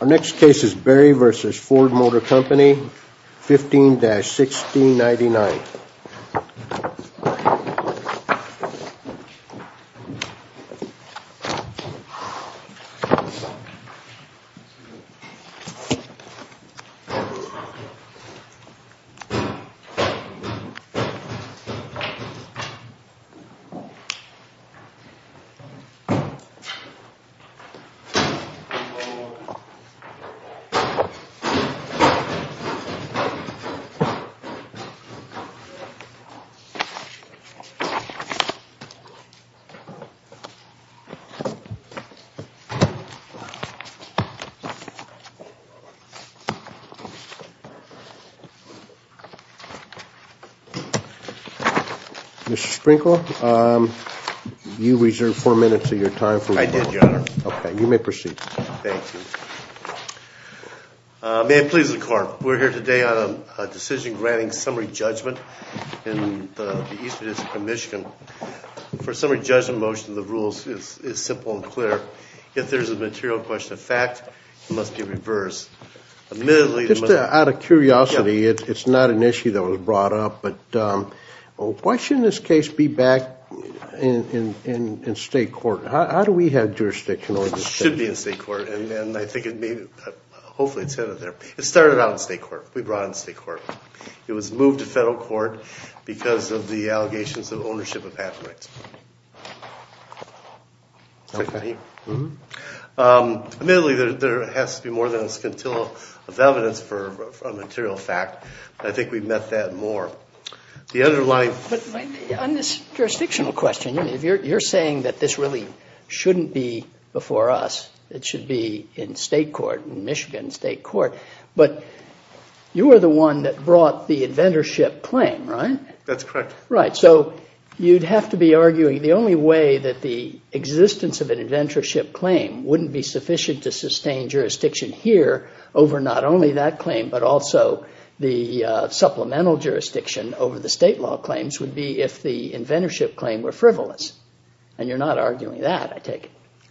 Our next case is Berry v. Ford Motor Company, 15-1699. Mr. Sprinkle, you reserved four minutes of your time. I did, Your Honor. Okay, you may proceed. Thank you. May it please the Court, we're here today on a decision granting summary judgment in the East District of Michigan. For a summary judgment motion, the rule is simple and clear. If there is a material question of fact, it must be reversed. Just out of curiosity, it's not an issue that was brought up, but why shouldn't this case be back in state court? How do we have jurisdiction over this case? It should be in state court, and I think it may, hopefully it's headed there. It started out in state court. We brought it in state court. It was moved to federal court because of the allegations of ownership of patent rights. Admittedly, there has to be more than a scintilla of evidence for a material fact, but I think we've met that more. On this jurisdictional question, you're saying that this really shouldn't be before us. It should be in state court, in Michigan state court, but you were the one that brought the inventorship claim, right? That's correct. Right. So you'd have to be arguing the only way that the existence of an inventorship claim wouldn't be sufficient to sustain jurisdiction here over not only that claim, but also the supplemental jurisdiction over the state law claims would be if the inventorship claim were frivolous, and you're not arguing that, I take it.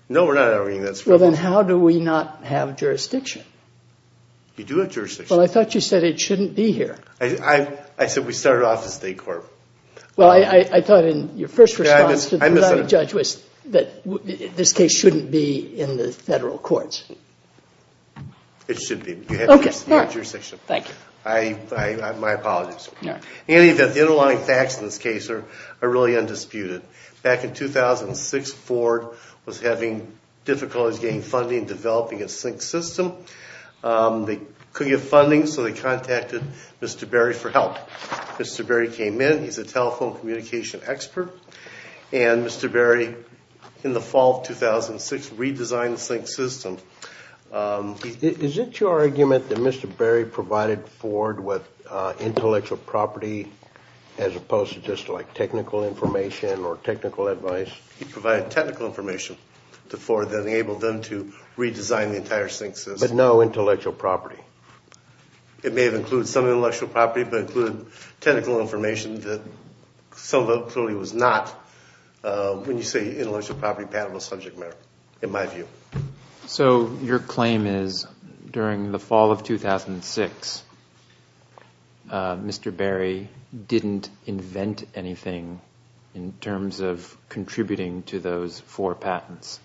No, we're not arguing that it's frivolous. Well, then how do we not have jurisdiction? We do have jurisdiction. Well, I thought you said it shouldn't be here. I said we started off in state court. Well, I thought in your first response to the judge was that this case shouldn't be in the federal courts. It should be. Okay. You have jurisdiction. Thank you. My apologies. In any event, the underlying facts in this case are really undisputed. Back in 2006, Ford was having difficulties getting funding and developing a sync system. They couldn't get funding, so they contacted Mr. Berry for help. Mr. Berry came in. He's a telephone communication expert, and Mr. Berry, in the fall of 2006, redesigned the sync system. Is it your argument that Mr. Berry provided Ford with intellectual property as opposed to just like technical information or technical advice? He provided technical information to Ford that enabled them to redesign the entire sync system. But no intellectual property. It may have included some intellectual property, but it included technical information that some of it clearly was not, when you say intellectual property patentable subject matter, in my view. So your claim is during the fall of 2006, Mr. Berry didn't invent anything in terms of contributing to those four patents?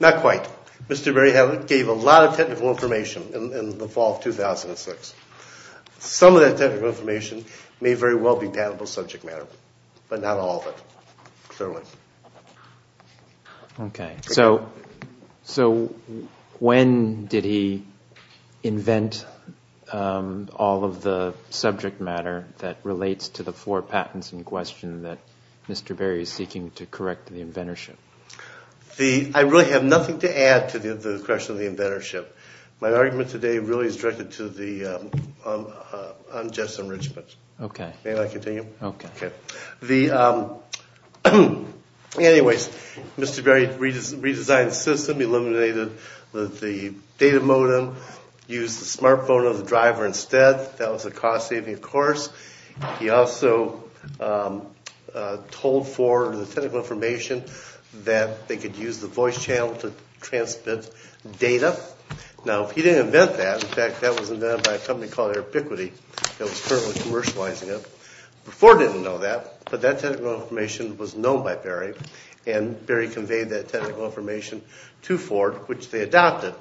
Not quite. Mr. Berry gave a lot of technical information in the fall of 2006. Some of that technical information may very well be patentable subject matter, but not all of it, clearly. Okay. So when did he invent all of the subject matter that relates to the four patents in question that Mr. Berry is seeking to correct the inventorship? I really have nothing to add to the question of the inventorship. My argument today really is directed to the unjust enrichment. Okay. May I continue? Okay. Anyways, Mr. Berry redesigned the system, eliminated the data modem, used the smartphone of the driver instead. That was a cost-saving, of course. He also told Ford the technical information that they could use the voice channel to transmit data. Now, he didn't invent that. In fact, that was invented by a company called Airpiquity that was currently commercializing it. Ford didn't know that, but that technical information was known by Berry, and Berry conveyed that technical information to Ford, which they adopted.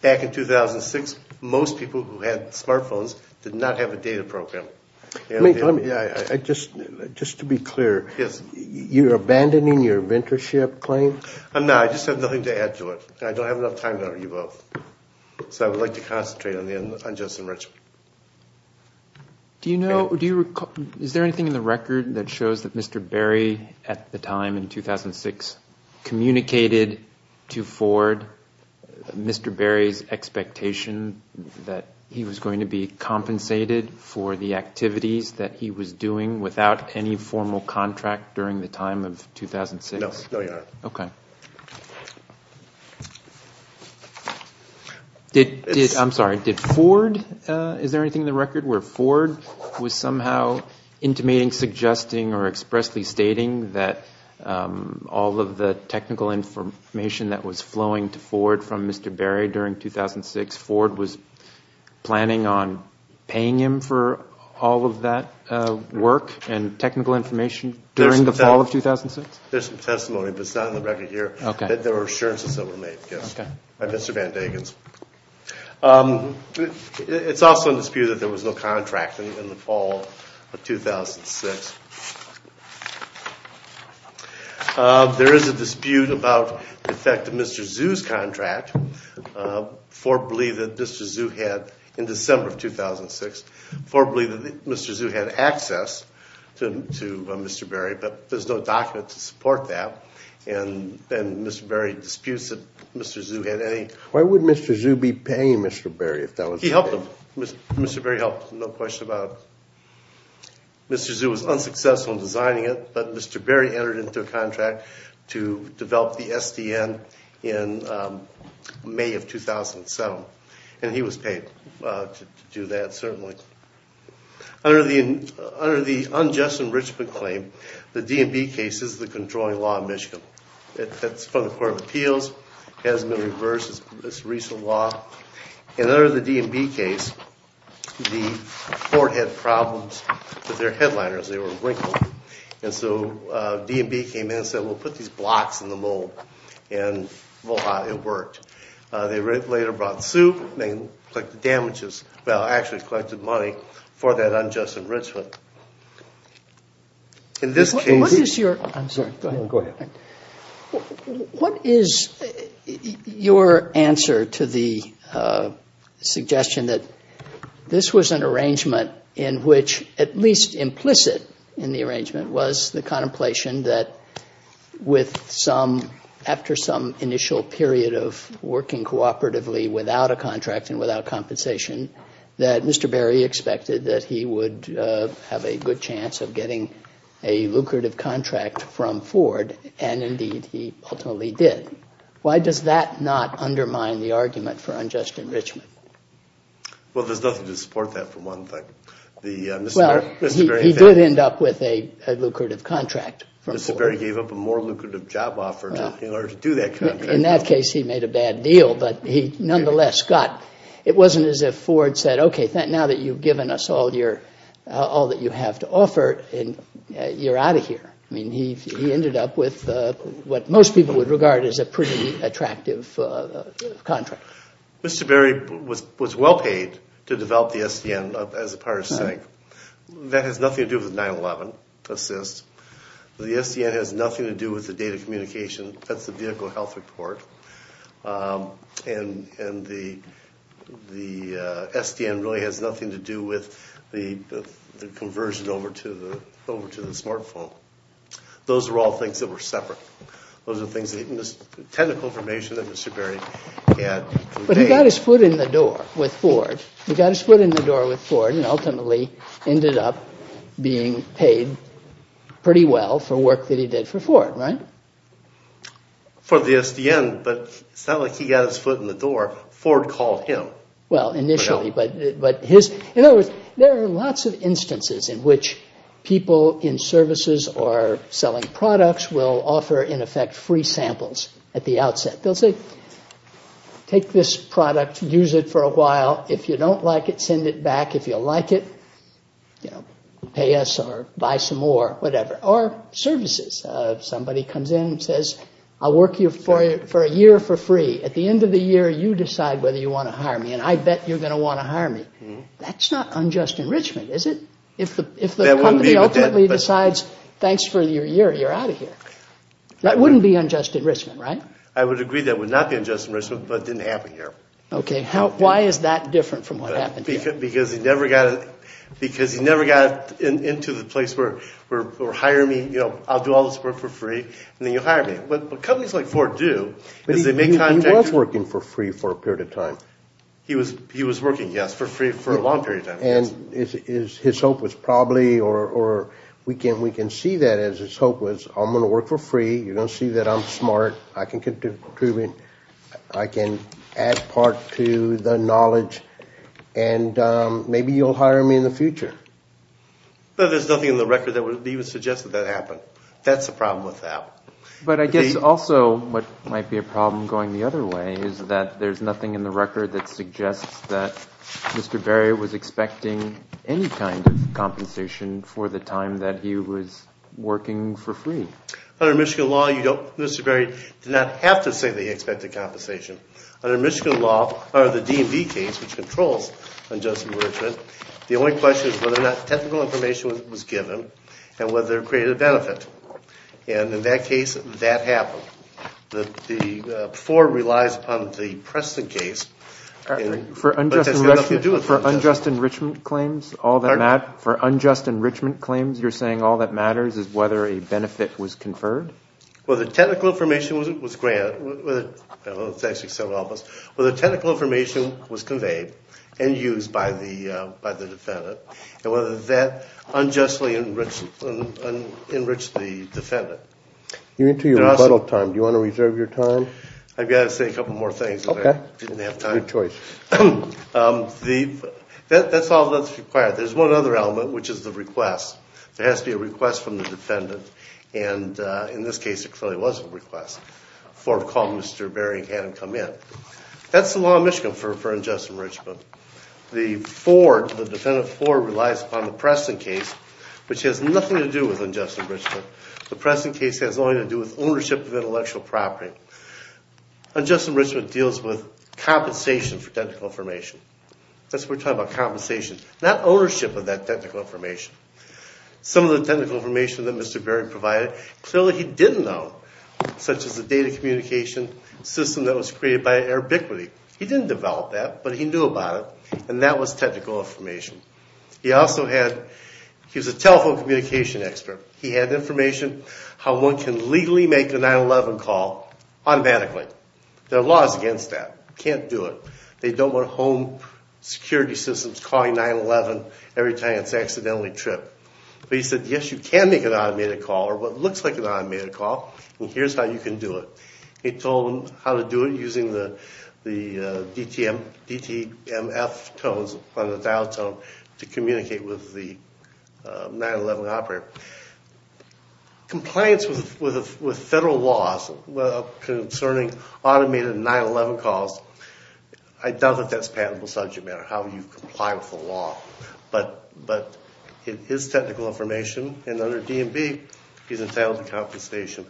Back in 2006, most people who had smartphones did not have a data program. Just to be clear, you're abandoning your inventorship claim? No, I just have nothing to add to it. I don't have enough time to argue both. So I would like to concentrate on the unjust enrichment. Do you know, is there anything in the record that shows that Mr. Berry, at the time in 2006, communicated to Ford Mr. Berry's expectation that he was going to be compensated for the activities that he was doing without any formal contract during the time of 2006? No, no you're not. Okay. I'm sorry, did Ford, is there anything in the record where Ford was somehow intimating, suggesting, or expressly stating that all of the technical information that was flowing to Ford from Mr. Berry during 2006, Ford was planning on paying him for all of that work and technical information during the fall of 2006? There's some testimony, but it's not in the record here. Okay. There were assurances that were made, yes, by Mr. Van Dagen. It's also in dispute that there was no contract in the fall of 2006. There is a dispute about the effect of Mr. Zhu's contract. Ford believed that Mr. Zhu had, in December of 2006, Ford believed that Mr. Zhu had access to Mr. Berry, but there's no document to support that, and Mr. Berry disputes that Mr. Zhu had any. Why would Mr. Zhu be paying Mr. Berry if that was the case? He helped him. Mr. Berry helped, no question about it. Mr. Zhu was unsuccessful in designing it, but Mr. Berry entered into a contract to develop the SDN in May of 2007, and he was paid to do that, certainly. Under the unjust enrichment claim, the D&B case is the controlling law in Michigan. It's from the Court of Appeals. It hasn't been reversed. It's a recent law. And under the D&B case, Ford had problems with their headliners. They were wrinkled. And so D&B came in and said, well, put these blocks in the mold, and voila, it worked. They later brought suit. They collected damages. Well, actually collected money for that unjust enrichment. In this case — What is your — I'm sorry. Go ahead. What is your answer to the suggestion that this was an arrangement in which, at least implicit in the arrangement, was the contemplation that with some — after some initial period of working cooperatively without a contract and without compensation, that Mr. Berry expected that he would have a good chance of getting a lucrative contract from Ford, and indeed he ultimately did. Why does that not undermine the argument for unjust enrichment? Well, there's nothing to support that, for one thing. Well, he did end up with a lucrative contract from Ford. Mr. Berry gave up a more lucrative job offer in order to do that contract. In that case, he made a bad deal, but he nonetheless got — it wasn't as if Ford said, okay, now that you've given us all that you have to offer, you're out of here. I mean, he ended up with what most people would regard as a pretty attractive contract. Mr. Berry was well paid to develop the SDN as a part of SYNC. That has nothing to do with the 911 assist. The SDN has nothing to do with the data communication. That's the vehicle health report. And the SDN really has nothing to do with the conversion over to the smartphone. Those are all things that were separate. Those are things that — technical information that Mr. Berry had. But he got his foot in the door with Ford. He got his foot in the door with Ford and ultimately ended up being paid pretty well for work that he did for Ford, right? For the SDN, but it's not like he got his foot in the door. Ford called him. Well, initially, but his — In other words, there are lots of instances in which people in services or selling products will offer, in effect, free samples at the outset. They'll say, take this product. Use it for a while. If you don't like it, send it back. If you like it, pay us or buy some more, whatever, or services. Somebody comes in and says, I'll work you for a year for free. At the end of the year, you decide whether you want to hire me, and I bet you're going to want to hire me. That's not unjust enrichment, is it? If the company ultimately decides, thanks for your year, you're out of here. That wouldn't be unjust enrichment, right? I would agree that would not be unjust enrichment, but it didn't happen here. Okay. Why is that different from what happened here? Because he never got into the place where, hire me, I'll do all this work for free, and then you'll hire me. What companies like Ford do is they make contracts — But he was working for free for a period of time. He was working, yes, for free for a long period of time. And his hope was probably, or we can see that as his hope was, I'm going to work for free. You're going to see that I'm smart. I can contribute. I can add part to the knowledge, and maybe you'll hire me in the future. But there's nothing in the record that would even suggest that that happened. That's the problem with that. But I guess also what might be a problem going the other way is that there's nothing in the record that suggests that Mr. Berry was expecting any kind of compensation for the time that he was working for free. Under Michigan law, Mr. Berry did not have to say that he expected compensation. Under Michigan law, under the DMV case, which controls unjust enrichment, the only question is whether or not technical information was given and whether it created a benefit. And in that case, that happened. The floor relies upon the Preston case. For unjust enrichment claims, you're saying all that matters is whether a benefit was conferred? Well, the technical information was granted. Well, it's actually several of us. Well, the technical information was conveyed and used by the defendant. And whether that unjustly enriched the defendant. You're into your rebuttal time. Do you want to reserve your time? I've got to say a couple more things. Okay. I didn't have time. Your choice. That's all that's required. There's one other element, which is the request. There has to be a request from the defendant. And in this case, it clearly was a request for calling Mr. Berry and had him come in. That's the law in Michigan for unjust enrichment. The floor, the defendant floor relies upon the Preston case, which has nothing to do with unjust enrichment. The Preston case has only to do with ownership of intellectual property. Unjust enrichment deals with compensation for technical information. That's what we're talking about, compensation. Not ownership of that technical information. Some of the technical information that Mr. Berry provided, clearly he didn't know, such as the data communication system that was created by Arbiquity. He didn't develop that, but he knew about it, and that was technical information. He also had, he was a telephone communication expert. He had information how one can legally make a 9-11 call automatically. There are laws against that. You can't do it. They don't want home security systems calling 9-11 every time it's accidentally tripped. But he said, yes, you can make an automated call, or what looks like an automated call, and here's how you can do it. He told them how to do it using the DTMF tones on the dial tone to communicate with the 9-11 operator. Compliance with federal laws concerning automated 9-11 calls, I doubt that that's patentable subject matter, how you comply with the law. But it is technical information, and under DMV, he's entitled to compensation.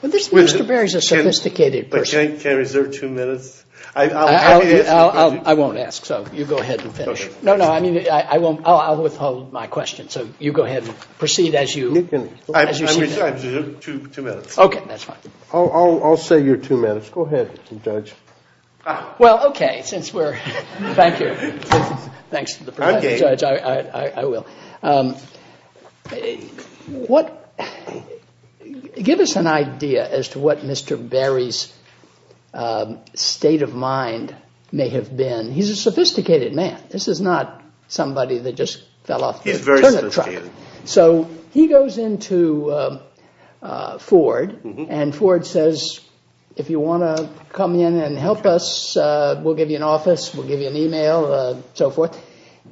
Well, Mr. Berry is a sophisticated person. Can I reserve two minutes? I won't ask, so you go ahead and finish. No, no, I mean, I won't, I'll withhold my question, so you go ahead and proceed as you see fit. I reserve two minutes. Okay, that's fine. I'll say you're two minutes. Go ahead, Judge. Well, okay, since we're, thank you. Thanks to the Professor, Judge, I will. What, give us an idea as to what Mr. Berry's state of mind may have been. He's a sophisticated man. This is not somebody that just fell off the turnip truck. He's very sophisticated. So he goes into Ford, and Ford says, if you want to come in and help us, we'll give you an office, we'll give you an e-mail, so forth.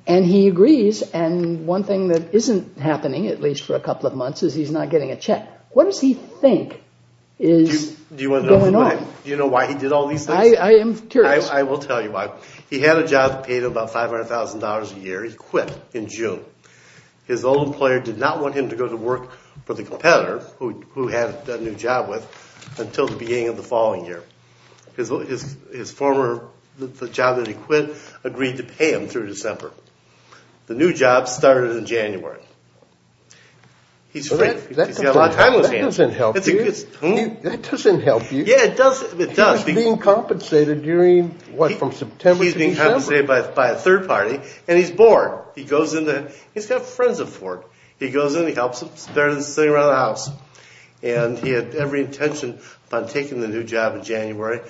And he agrees, and one thing that isn't happening, at least for a couple of months, is he's not getting a check. What does he think is going on? Do you know why he did all these things? I am curious. I will tell you why. He had a job that paid him about $500,000 a year. He quit in June. His old employer did not want him to go to work for the competitor, who he had a new job with, until the beginning of the following year. His former, the job that he quit, agreed to pay him through December. The new job started in January. He's free. He's got a lot of time on his hands. That doesn't help you. Yeah, it does. He's being compensated during, what, from September to December? He's being compensated by a third party, and he's bored. He goes into, he's got friends at Ford. He goes in, he helps them, he's better than sitting around the house. He had every intention of taking the new job in January,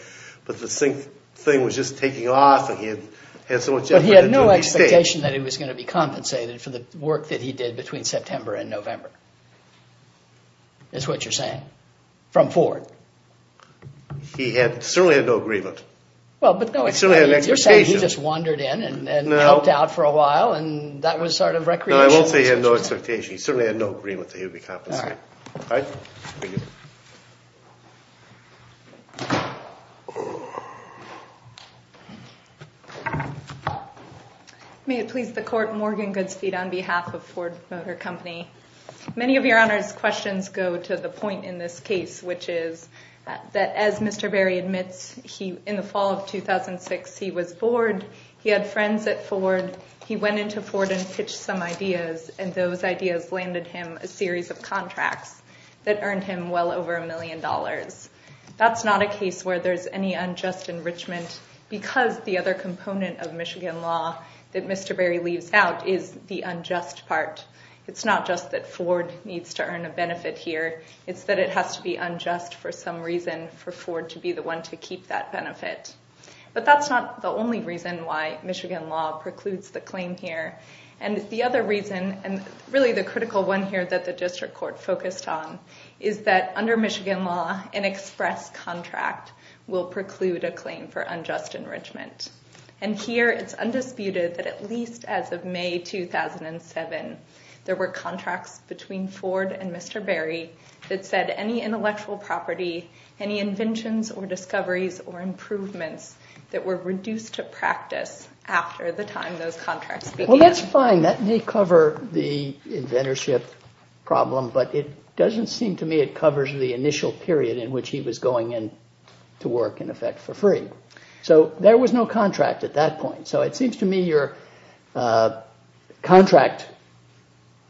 but the thing was just taking off. He had so much effort to stay. He had no expectation that he was going to be compensated for the work that he did between September and November. That's what you're saying. From Ford. He certainly had no agreement. He certainly had an expectation. You're saying he just wandered in and helped out for a while, and that was sort of recreational. No, I won't say he had no expectation. He certainly had no agreement that he would be compensated. All right. Thank you. May it please the Court, Morgan Goodspeed on behalf of Ford Motor Company. Many of Your Honor's questions go to the point in this case, which is that as Mr. Berry admits, in the fall of 2006, he was bored. He had friends at Ford. He went into Ford and pitched some ideas, and those ideas landed him a series of contracts that earned him well over a million dollars. That's not a case where there's any unjust enrichment because the other component of Michigan law that Mr. Berry leaves out is the unjust part. It's not just that Ford needs to earn a benefit here. It's that it has to be unjust for some reason for Ford to be the one to keep that benefit. But that's not the only reason why Michigan law precludes the claim here. The other reason, and really the critical one here that the district court focused on, is that under Michigan law, an express contract will preclude a claim for unjust enrichment. And here it's undisputed that at least as of May 2007, there were contracts between Ford and Mr. Berry that said any intellectual property, any inventions or discoveries or improvements that were reduced to practice after the time those contracts began. Well, that's fine. That may cover the inventorship problem, but it doesn't seem to me it covers the initial period in which he was going in to work, in effect, for free. So there was no contract at that point. So it seems to me your contract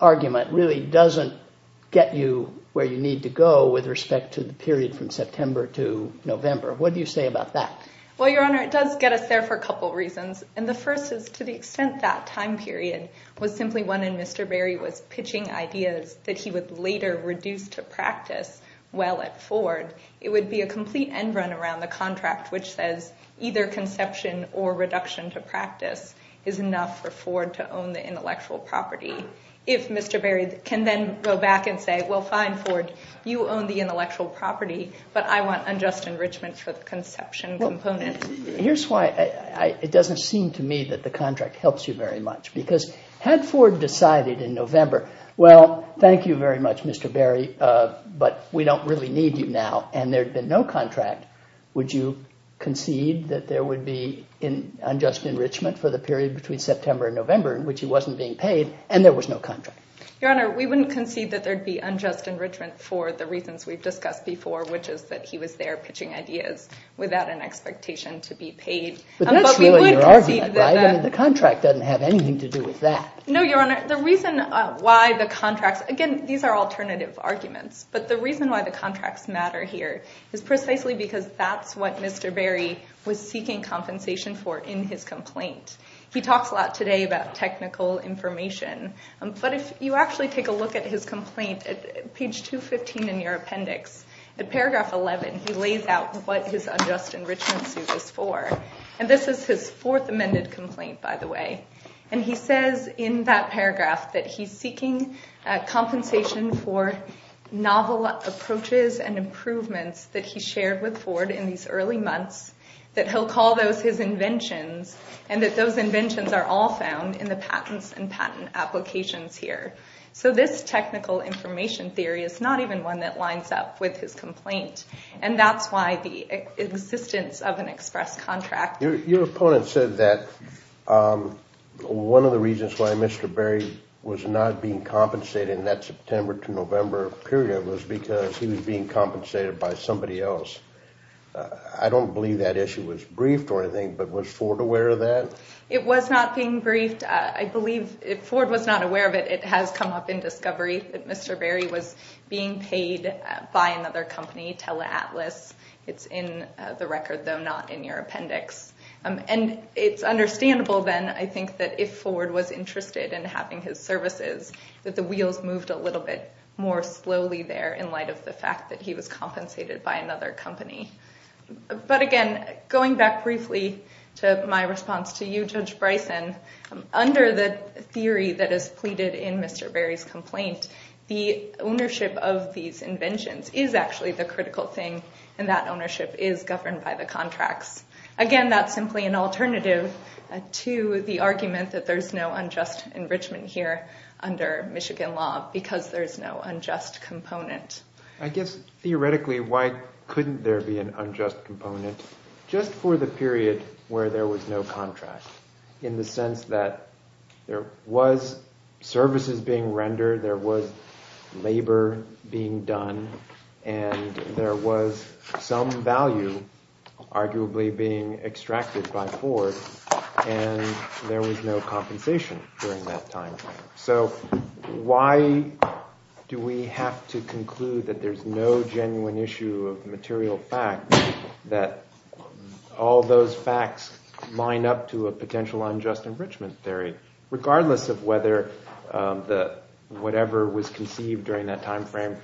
argument really doesn't get you where you need to go with respect to the period from September to November. What do you say about that? Well, Your Honor, it does get us there for a couple of reasons. And the first is to the extent that time period was simply when Mr. Berry was pitching ideas that he would later reduce to practice while at Ford, it would be a complete end run around the contract, which says either conception or reduction to practice is enough for Ford to own the intellectual property. If Mr. Berry can then go back and say, well, fine, Ford, you own the intellectual property, but I want unjust enrichment for the conception component. Here's why it doesn't seem to me that the contract helps you very much. Because had Ford decided in November, well, thank you very much, Mr. Berry, but we don't really need you now, and there'd been no contract, would you concede that there would be unjust enrichment for the period between September and November in which he wasn't being paid and there was no contract? Your Honor, we wouldn't concede that there'd be unjust enrichment for the reasons we've discussed before, which is that he was there pitching ideas without an expectation to be paid. But that's still in your argument, right? I mean, the contract doesn't have anything to do with that. No, Your Honor, the reason why the contracts, again, these are alternative arguments, but the reason why the contracts matter here is precisely because that's what Mr. Berry was seeking compensation for in his complaint. He talks a lot today about technical information, but if you actually take a look at his complaint at page 215 in your appendix, at paragraph 11, he lays out what his unjust enrichment suit is for. And this is his fourth amended complaint, by the way. And he says in that paragraph that he's seeking compensation for novel approaches and improvements that he shared with Ford in these early months, that he'll call those his inventions, and that those inventions are all found in the patents and patent applications here. So this technical information theory is not even one that lines up with his complaint. And that's why the existence of an express contract. Your opponent said that one of the reasons why Mr. Berry was not being compensated in that September to November period was because he was being compensated by somebody else. I don't believe that issue was briefed or anything, but was Ford aware of that? It was not being briefed. I believe if Ford was not aware of it, it has come up in discovery that Mr. Berry was being paid by another company, Teleatlas. It's in the record, though not in your appendix. And it's understandable then, I think, that if Ford was interested in having his services, that the wheels moved a little bit more slowly there in light of the fact that he was compensated by another company. But again, going back briefly to my response to you, Judge Bryson, under the theory that is pleaded in Mr. Berry's complaint, the ownership of these inventions is actually the critical thing, and that ownership is governed by the contracts. Again, that's simply an alternative to the argument that there's no unjust enrichment here under Michigan law, because there's no unjust component. I guess theoretically why couldn't there be an unjust component just for the period where there was no contract in the sense that there was services being rendered, there was labor being done, and there was some value arguably being extracted by Ford, and there was no compensation during that time frame. So why do we have to conclude that there's no genuine issue of material fact, that all those facts line up to a potential unjust enrichment theory, regardless of whether whatever was conceived during that time frame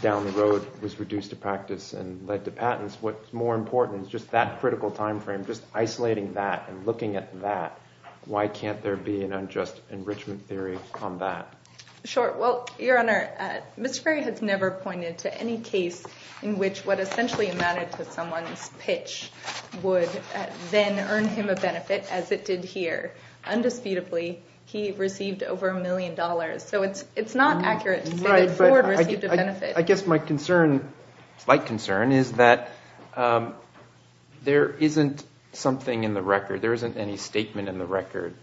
down the road was reduced to practice and led to patents? What's more important is just that critical time frame, just isolating that and looking at that. Why can't there be an unjust enrichment theory on that? Sure. Well, Your Honor, Mr. Berry has never pointed to any case in which what essentially amounted to someone's pitch would then earn him a benefit as it did here. Undisputably, he received over a million dollars. So it's not accurate to say that Ford received a benefit. I guess my concern, slight concern, is that there isn't something in the record, there isn't any statement in the record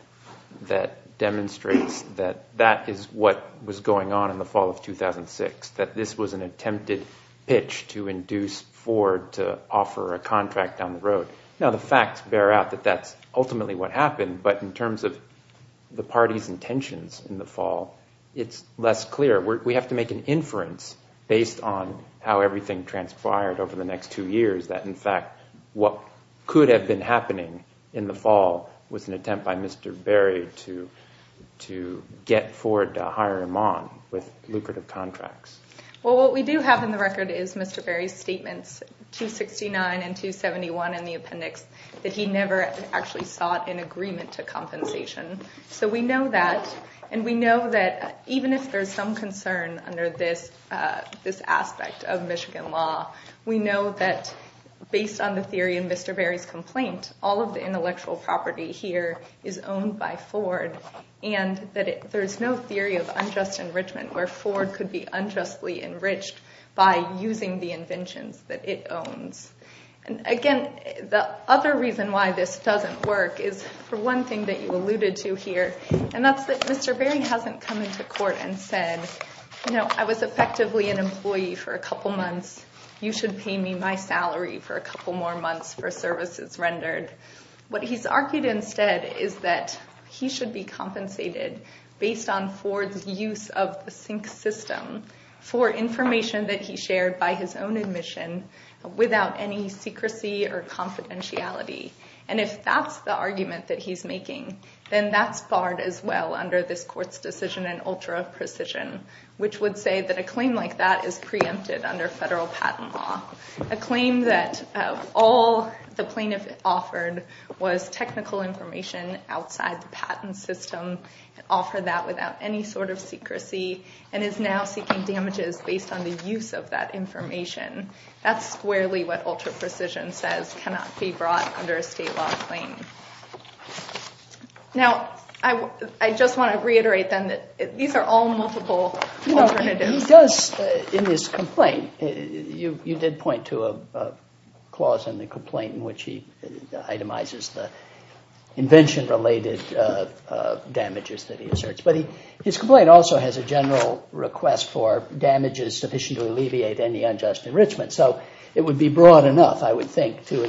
that demonstrates that that is what was going on in the fall of 2006, that this was an attempted pitch to induce Ford to offer a contract down the road. Now the facts bear out that that's ultimately what happened, but in terms of the party's intentions in the fall, it's less clear. We have to make an inference based on how everything transpired over the next two years, that in fact what could have been happening in the fall was an attempt by Mr. Berry to get Ford to hire him on with lucrative contracts. Well, what we do have in the record is Mr. Berry's statements, 269 and 271 in the appendix, that he never actually sought an agreement to compensation. So we know that, and we know that even if there's some concern under this aspect of Michigan law, we know that based on the theory in Mr. Berry's complaint, all of the intellectual property here is owned by Ford, and that there's no theory of unjust enrichment where Ford could be unjustly enriched by using the inventions that it owns. And again, the other reason why this doesn't work is for one thing that you alluded to here, and that's that Mr. Berry hasn't come into court and said, you know, you should pay me my salary for a couple more months for services rendered. What he's argued instead is that he should be compensated based on Ford's use of the sync system for information that he shared by his own admission without any secrecy or confidentiality. And if that's the argument that he's making, then that's barred as well under this court's decision in ultra-precision, which would say that a claim like that is preempted under federal patent law. A claim that all the plaintiff offered was technical information outside the patent system, offered that without any sort of secrecy, and is now seeking damages based on the use of that information. That's squarely what ultra-precision says cannot be brought under a state law claim. Now, I just want to reiterate then that these are all multiple alternatives. He does, in his complaint, you did point to a clause in the complaint in which he itemizes the invention-related damages that he asserts. But his complaint also has a general request for damages sufficient to alleviate any unjust enrichment. So it would be broad enough, I would think, to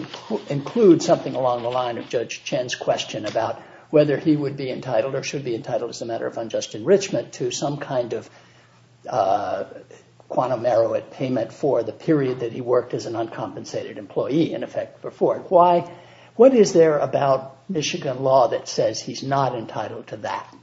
include something along the line of Judge Chen's question about whether he would be entitled or should be entitled as a matter of unjust enrichment to some kind of quantum arrow at payment for the period that he worked as an uncompensated employee, in effect, for Ford. What is there about Michigan law that says he's not entitled to that?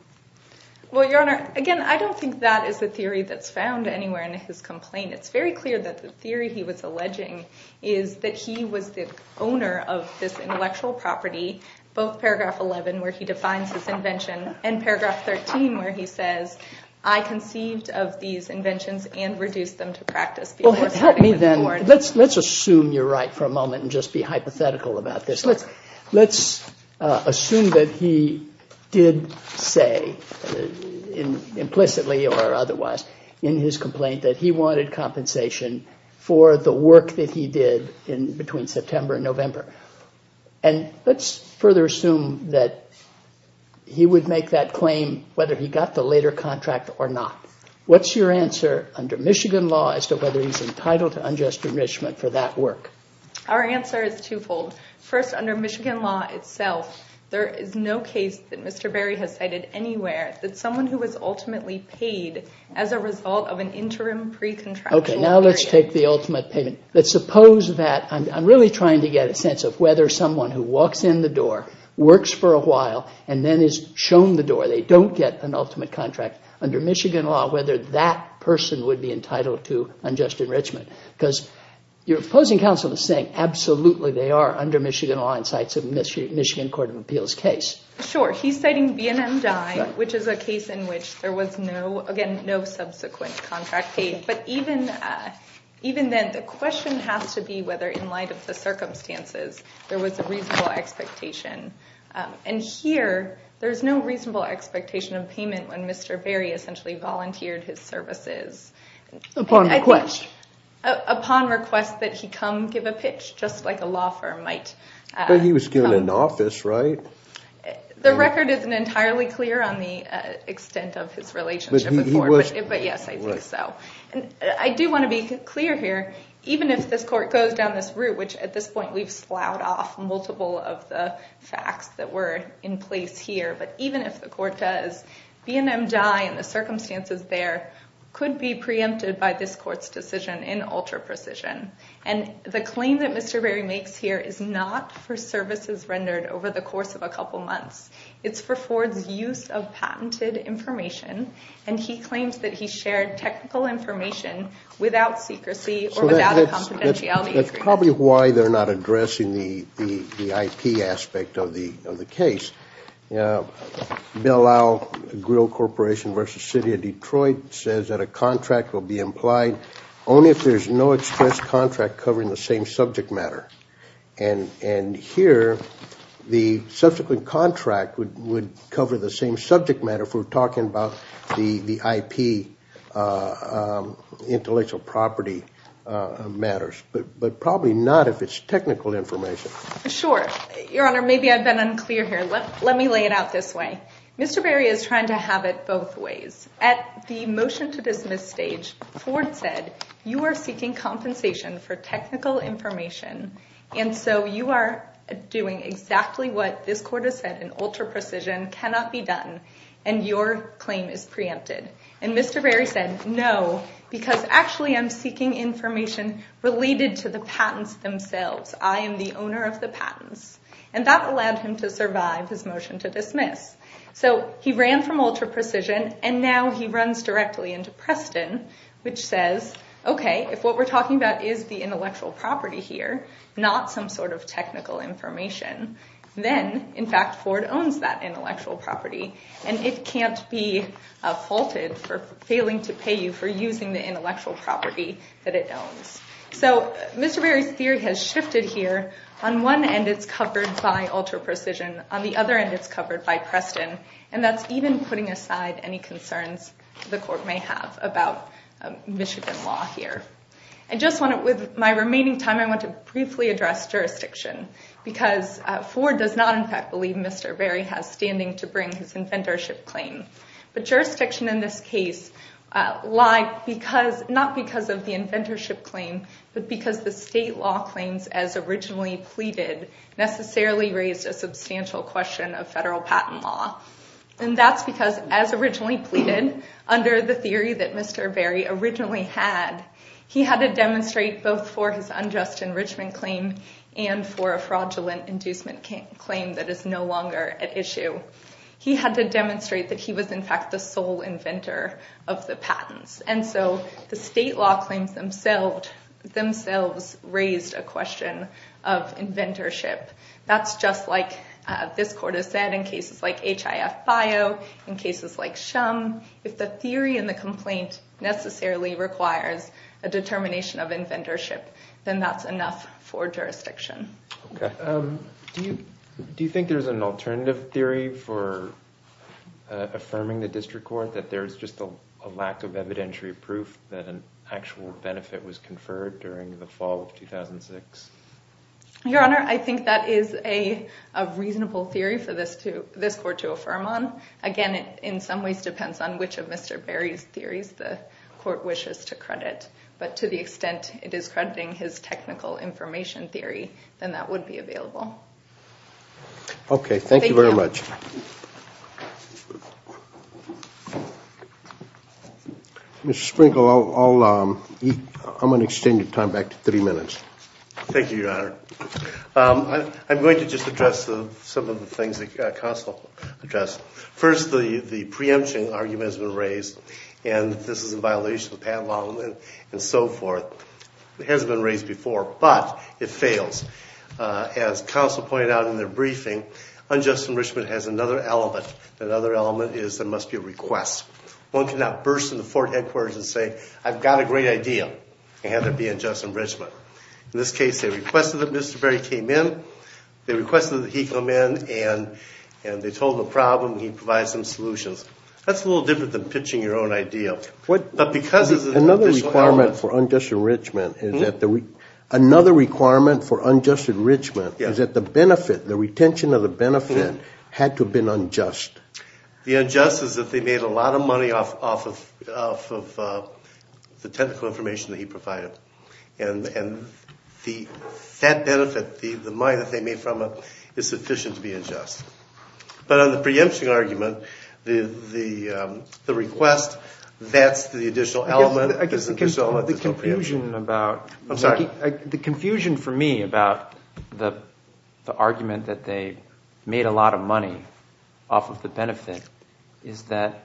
Well, Your Honor, again, I don't think that is the theory that's found anywhere in his complaint. It's very clear that the theory he was alleging is that he was the owner of this intellectual property, both Paragraph 11, where he defines his invention, and Paragraph 13, where he says, I conceived of these inventions and reduced them to practice before setting them forth. Well, help me then. Let's assume you're right for a moment and just be hypothetical about this. Let's assume that he did say, implicitly or otherwise, in his complaint that he wanted compensation for the work that he did between September and November. And let's further assume that he would make that claim whether he got the later contract or not. What's your answer under Michigan law as to whether he's entitled to unjust enrichment for that work? Our answer is twofold. First, under Michigan law itself, there is no case that Mr. Berry has cited anywhere that someone who was ultimately paid as a result of an interim pre-contractual period. Okay, now let's take the ultimate payment. Let's suppose that, I'm really trying to get a sense of whether someone who walks in the door, works for a while, and then is shown the door, they don't get an ultimate contract, under Michigan law, whether that person would be entitled to unjust enrichment. Because your opposing counsel is saying, absolutely, they are under Michigan law in the Michigan Court of Appeals case. Sure, he's citing B&M Dye, which is a case in which there was no, again, no subsequent contract paid. But even then, the question has to be whether, in light of the circumstances, there was a reasonable expectation. And here, there's no reasonable expectation of payment when Mr. Berry essentially volunteered his services. Upon request. Upon request that he come give a pitch, just like a law firm might. But he was given an office, right? The record isn't entirely clear on the extent of his relationship with Ford, but yes, I think so. I do want to be clear here, even if this court goes down this route, which at this point we've slowed off multiple of the facts that were in place here, but even if the court does, B&M Dye and the circumstances there could be preempted by this court's decision in ultra-precision. And the claim that Mr. Berry makes here is not for services rendered over the course of a couple months. It's for Ford's use of patented information. And he claims that he shared technical information without secrecy or without a confidentiality agreement. That's probably why they're not addressing the IP aspect of the case. Belal Grill Corporation v. City of Detroit says that a contract will be implied only if there's no express contract covering the same subject matter. And here, the subsequent contract would cover the same subject matter if we're talking about the IP intellectual property matters. But probably not if it's technical information. Sure. Your Honor, maybe I've been unclear here. Let me lay it out this way. Mr. Berry is trying to have it both ways. At the motion-to-dismiss stage, Ford said, you are seeking compensation for technical information, and so you are doing exactly what this court has said in ultra-precision, cannot be done, and your claim is preempted. And Mr. Berry said, no, because actually I'm seeking information related to the patents themselves. I am the owner of the patents. And that allowed him to survive his motion-to-dismiss. So he ran from ultra-precision, and now he runs directly into Preston, which says, okay, if what we're talking about is the intellectual property here, not some sort of technical information, then, in fact, Ford owns that intellectual property, and it can't be faulted for failing to pay you for using the intellectual property that it owns. So Mr. Berry's theory has shifted here. On one end, it's covered by ultra-precision. On the other end, it's covered by Preston. And that's even putting aside any concerns the court may have about Michigan law here. And just with my remaining time, I want to briefly address jurisdiction, because Ford does not, in fact, believe Mr. Berry has standing to bring his inventorship claim. But jurisdiction in this case lied not because of the inventorship claim, but because the state law claims as originally pleaded necessarily raised a substantial question of federal patent law. And that's because, as originally pleaded, under the theory that Mr. Berry originally had, he had to demonstrate both for his unjust enrichment claim and for a fraudulent inducement claim that is no longer at issue. He had to demonstrate that he was, in fact, the sole inventor of the patents. And so the state law claims themselves raised a question of inventorship. That's just like this court has said in cases like HIF-BIO, in cases like SHUM, if the theory in the complaint necessarily requires a determination of inventorship, then that's enough for jurisdiction. Do you think there's an alternative theory for affirming the district court, that there's just a lack of evidentiary proof that an actual benefit was conferred during the fall of 2006? Your Honor, I think that is a reasonable theory for this court to affirm on. Again, it in some ways depends on which of Mr. Berry's theories the court wishes to credit. But to the extent it is crediting his technical information theory, then that would be available. Okay, thank you very much. Mr. Sprinkle, I'm going to extend your time back to three minutes. Thank you, Your Honor. I'm going to just address some of the things that counsel addressed. First, the preemption argument has been raised, and this is in violation of patent law, and so forth. It hasn't been raised before, but it fails. As counsel pointed out in their briefing, unjust enrichment has another element. That other element is there must be a request. One cannot burst into Fort Headquarters and say, I've got a great idea, and have it be unjust enrichment. In this case, they requested that Mr. Berry came in. They requested that he come in, and they told him the problem. He provided some solutions. That's a little different than pitching your own idea. Another requirement for unjust enrichment is that the benefit, the retention of the benefit, had to have been unjust. The unjust is that they made a lot of money off of the technical information that he provided. And that benefit, the money that they made from it, is sufficient to be unjust. But on the preemption argument, the request, that's the additional element. The confusion for me about the argument that they made a lot of money off of the benefit is that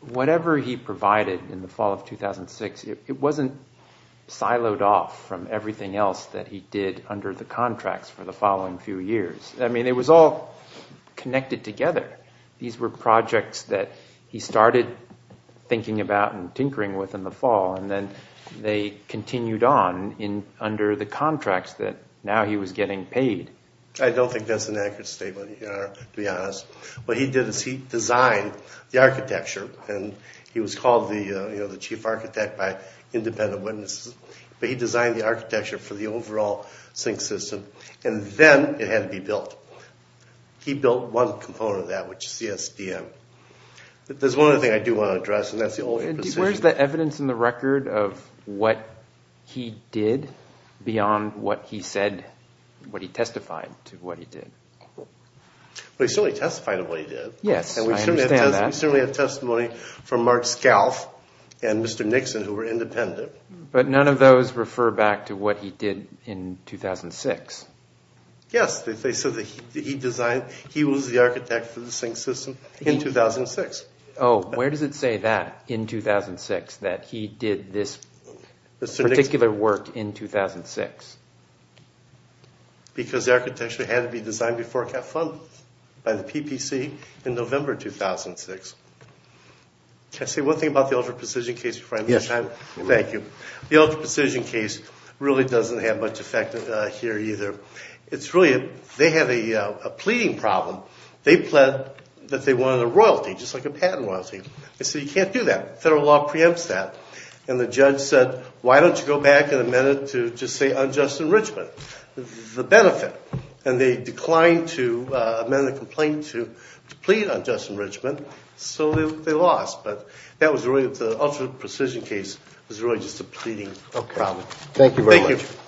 whatever he provided in the fall of 2006, it wasn't siloed off from everything else that he did under the contracts for the following few years. I mean, it was all connected together. These were projects that he started thinking about and tinkering with in the fall, and then they continued on under the contracts that now he was getting paid. I don't think that's an accurate statement, to be honest. What he did is he designed the architecture, and he was called the chief architect by independent witnesses, but he designed the architecture for the overall sink system. And then it had to be built. He built one component of that, which is CSDM. There's one other thing I do want to address, and that's the old imprecision. Where's the evidence in the record of what he did beyond what he said, what he testified to what he did? Well, he certainly testified to what he did. Yes, I understand that. And we certainly have testimony from Mark Scalf and Mr. Nixon, who were independent. But none of those refer back to what he did in 2006. Yes. They said that he designed, he was the architect for the sink system in 2006. Oh, where does it say that, in 2006, that he did this particular work in 2006? Because the architecture had to be designed before it got funded by the PPC in November 2006. Can I say one thing about the ultra-precision case before I move on? Yes. Thank you. The ultra-precision case really doesn't have much effect here either. It's really, they had a pleading problem. They pled that they wanted a royalty, just like a patent royalty. They said, you can't do that. Federal law preempts that. And the judge said, why don't you go back and amend it to just say unjust enrichment? The benefit. And they declined to amend the complaint to plead unjust enrichment, so they lost. But that was really, the ultra-precision case was really just a pleading problem. Thank you very much. Thank you.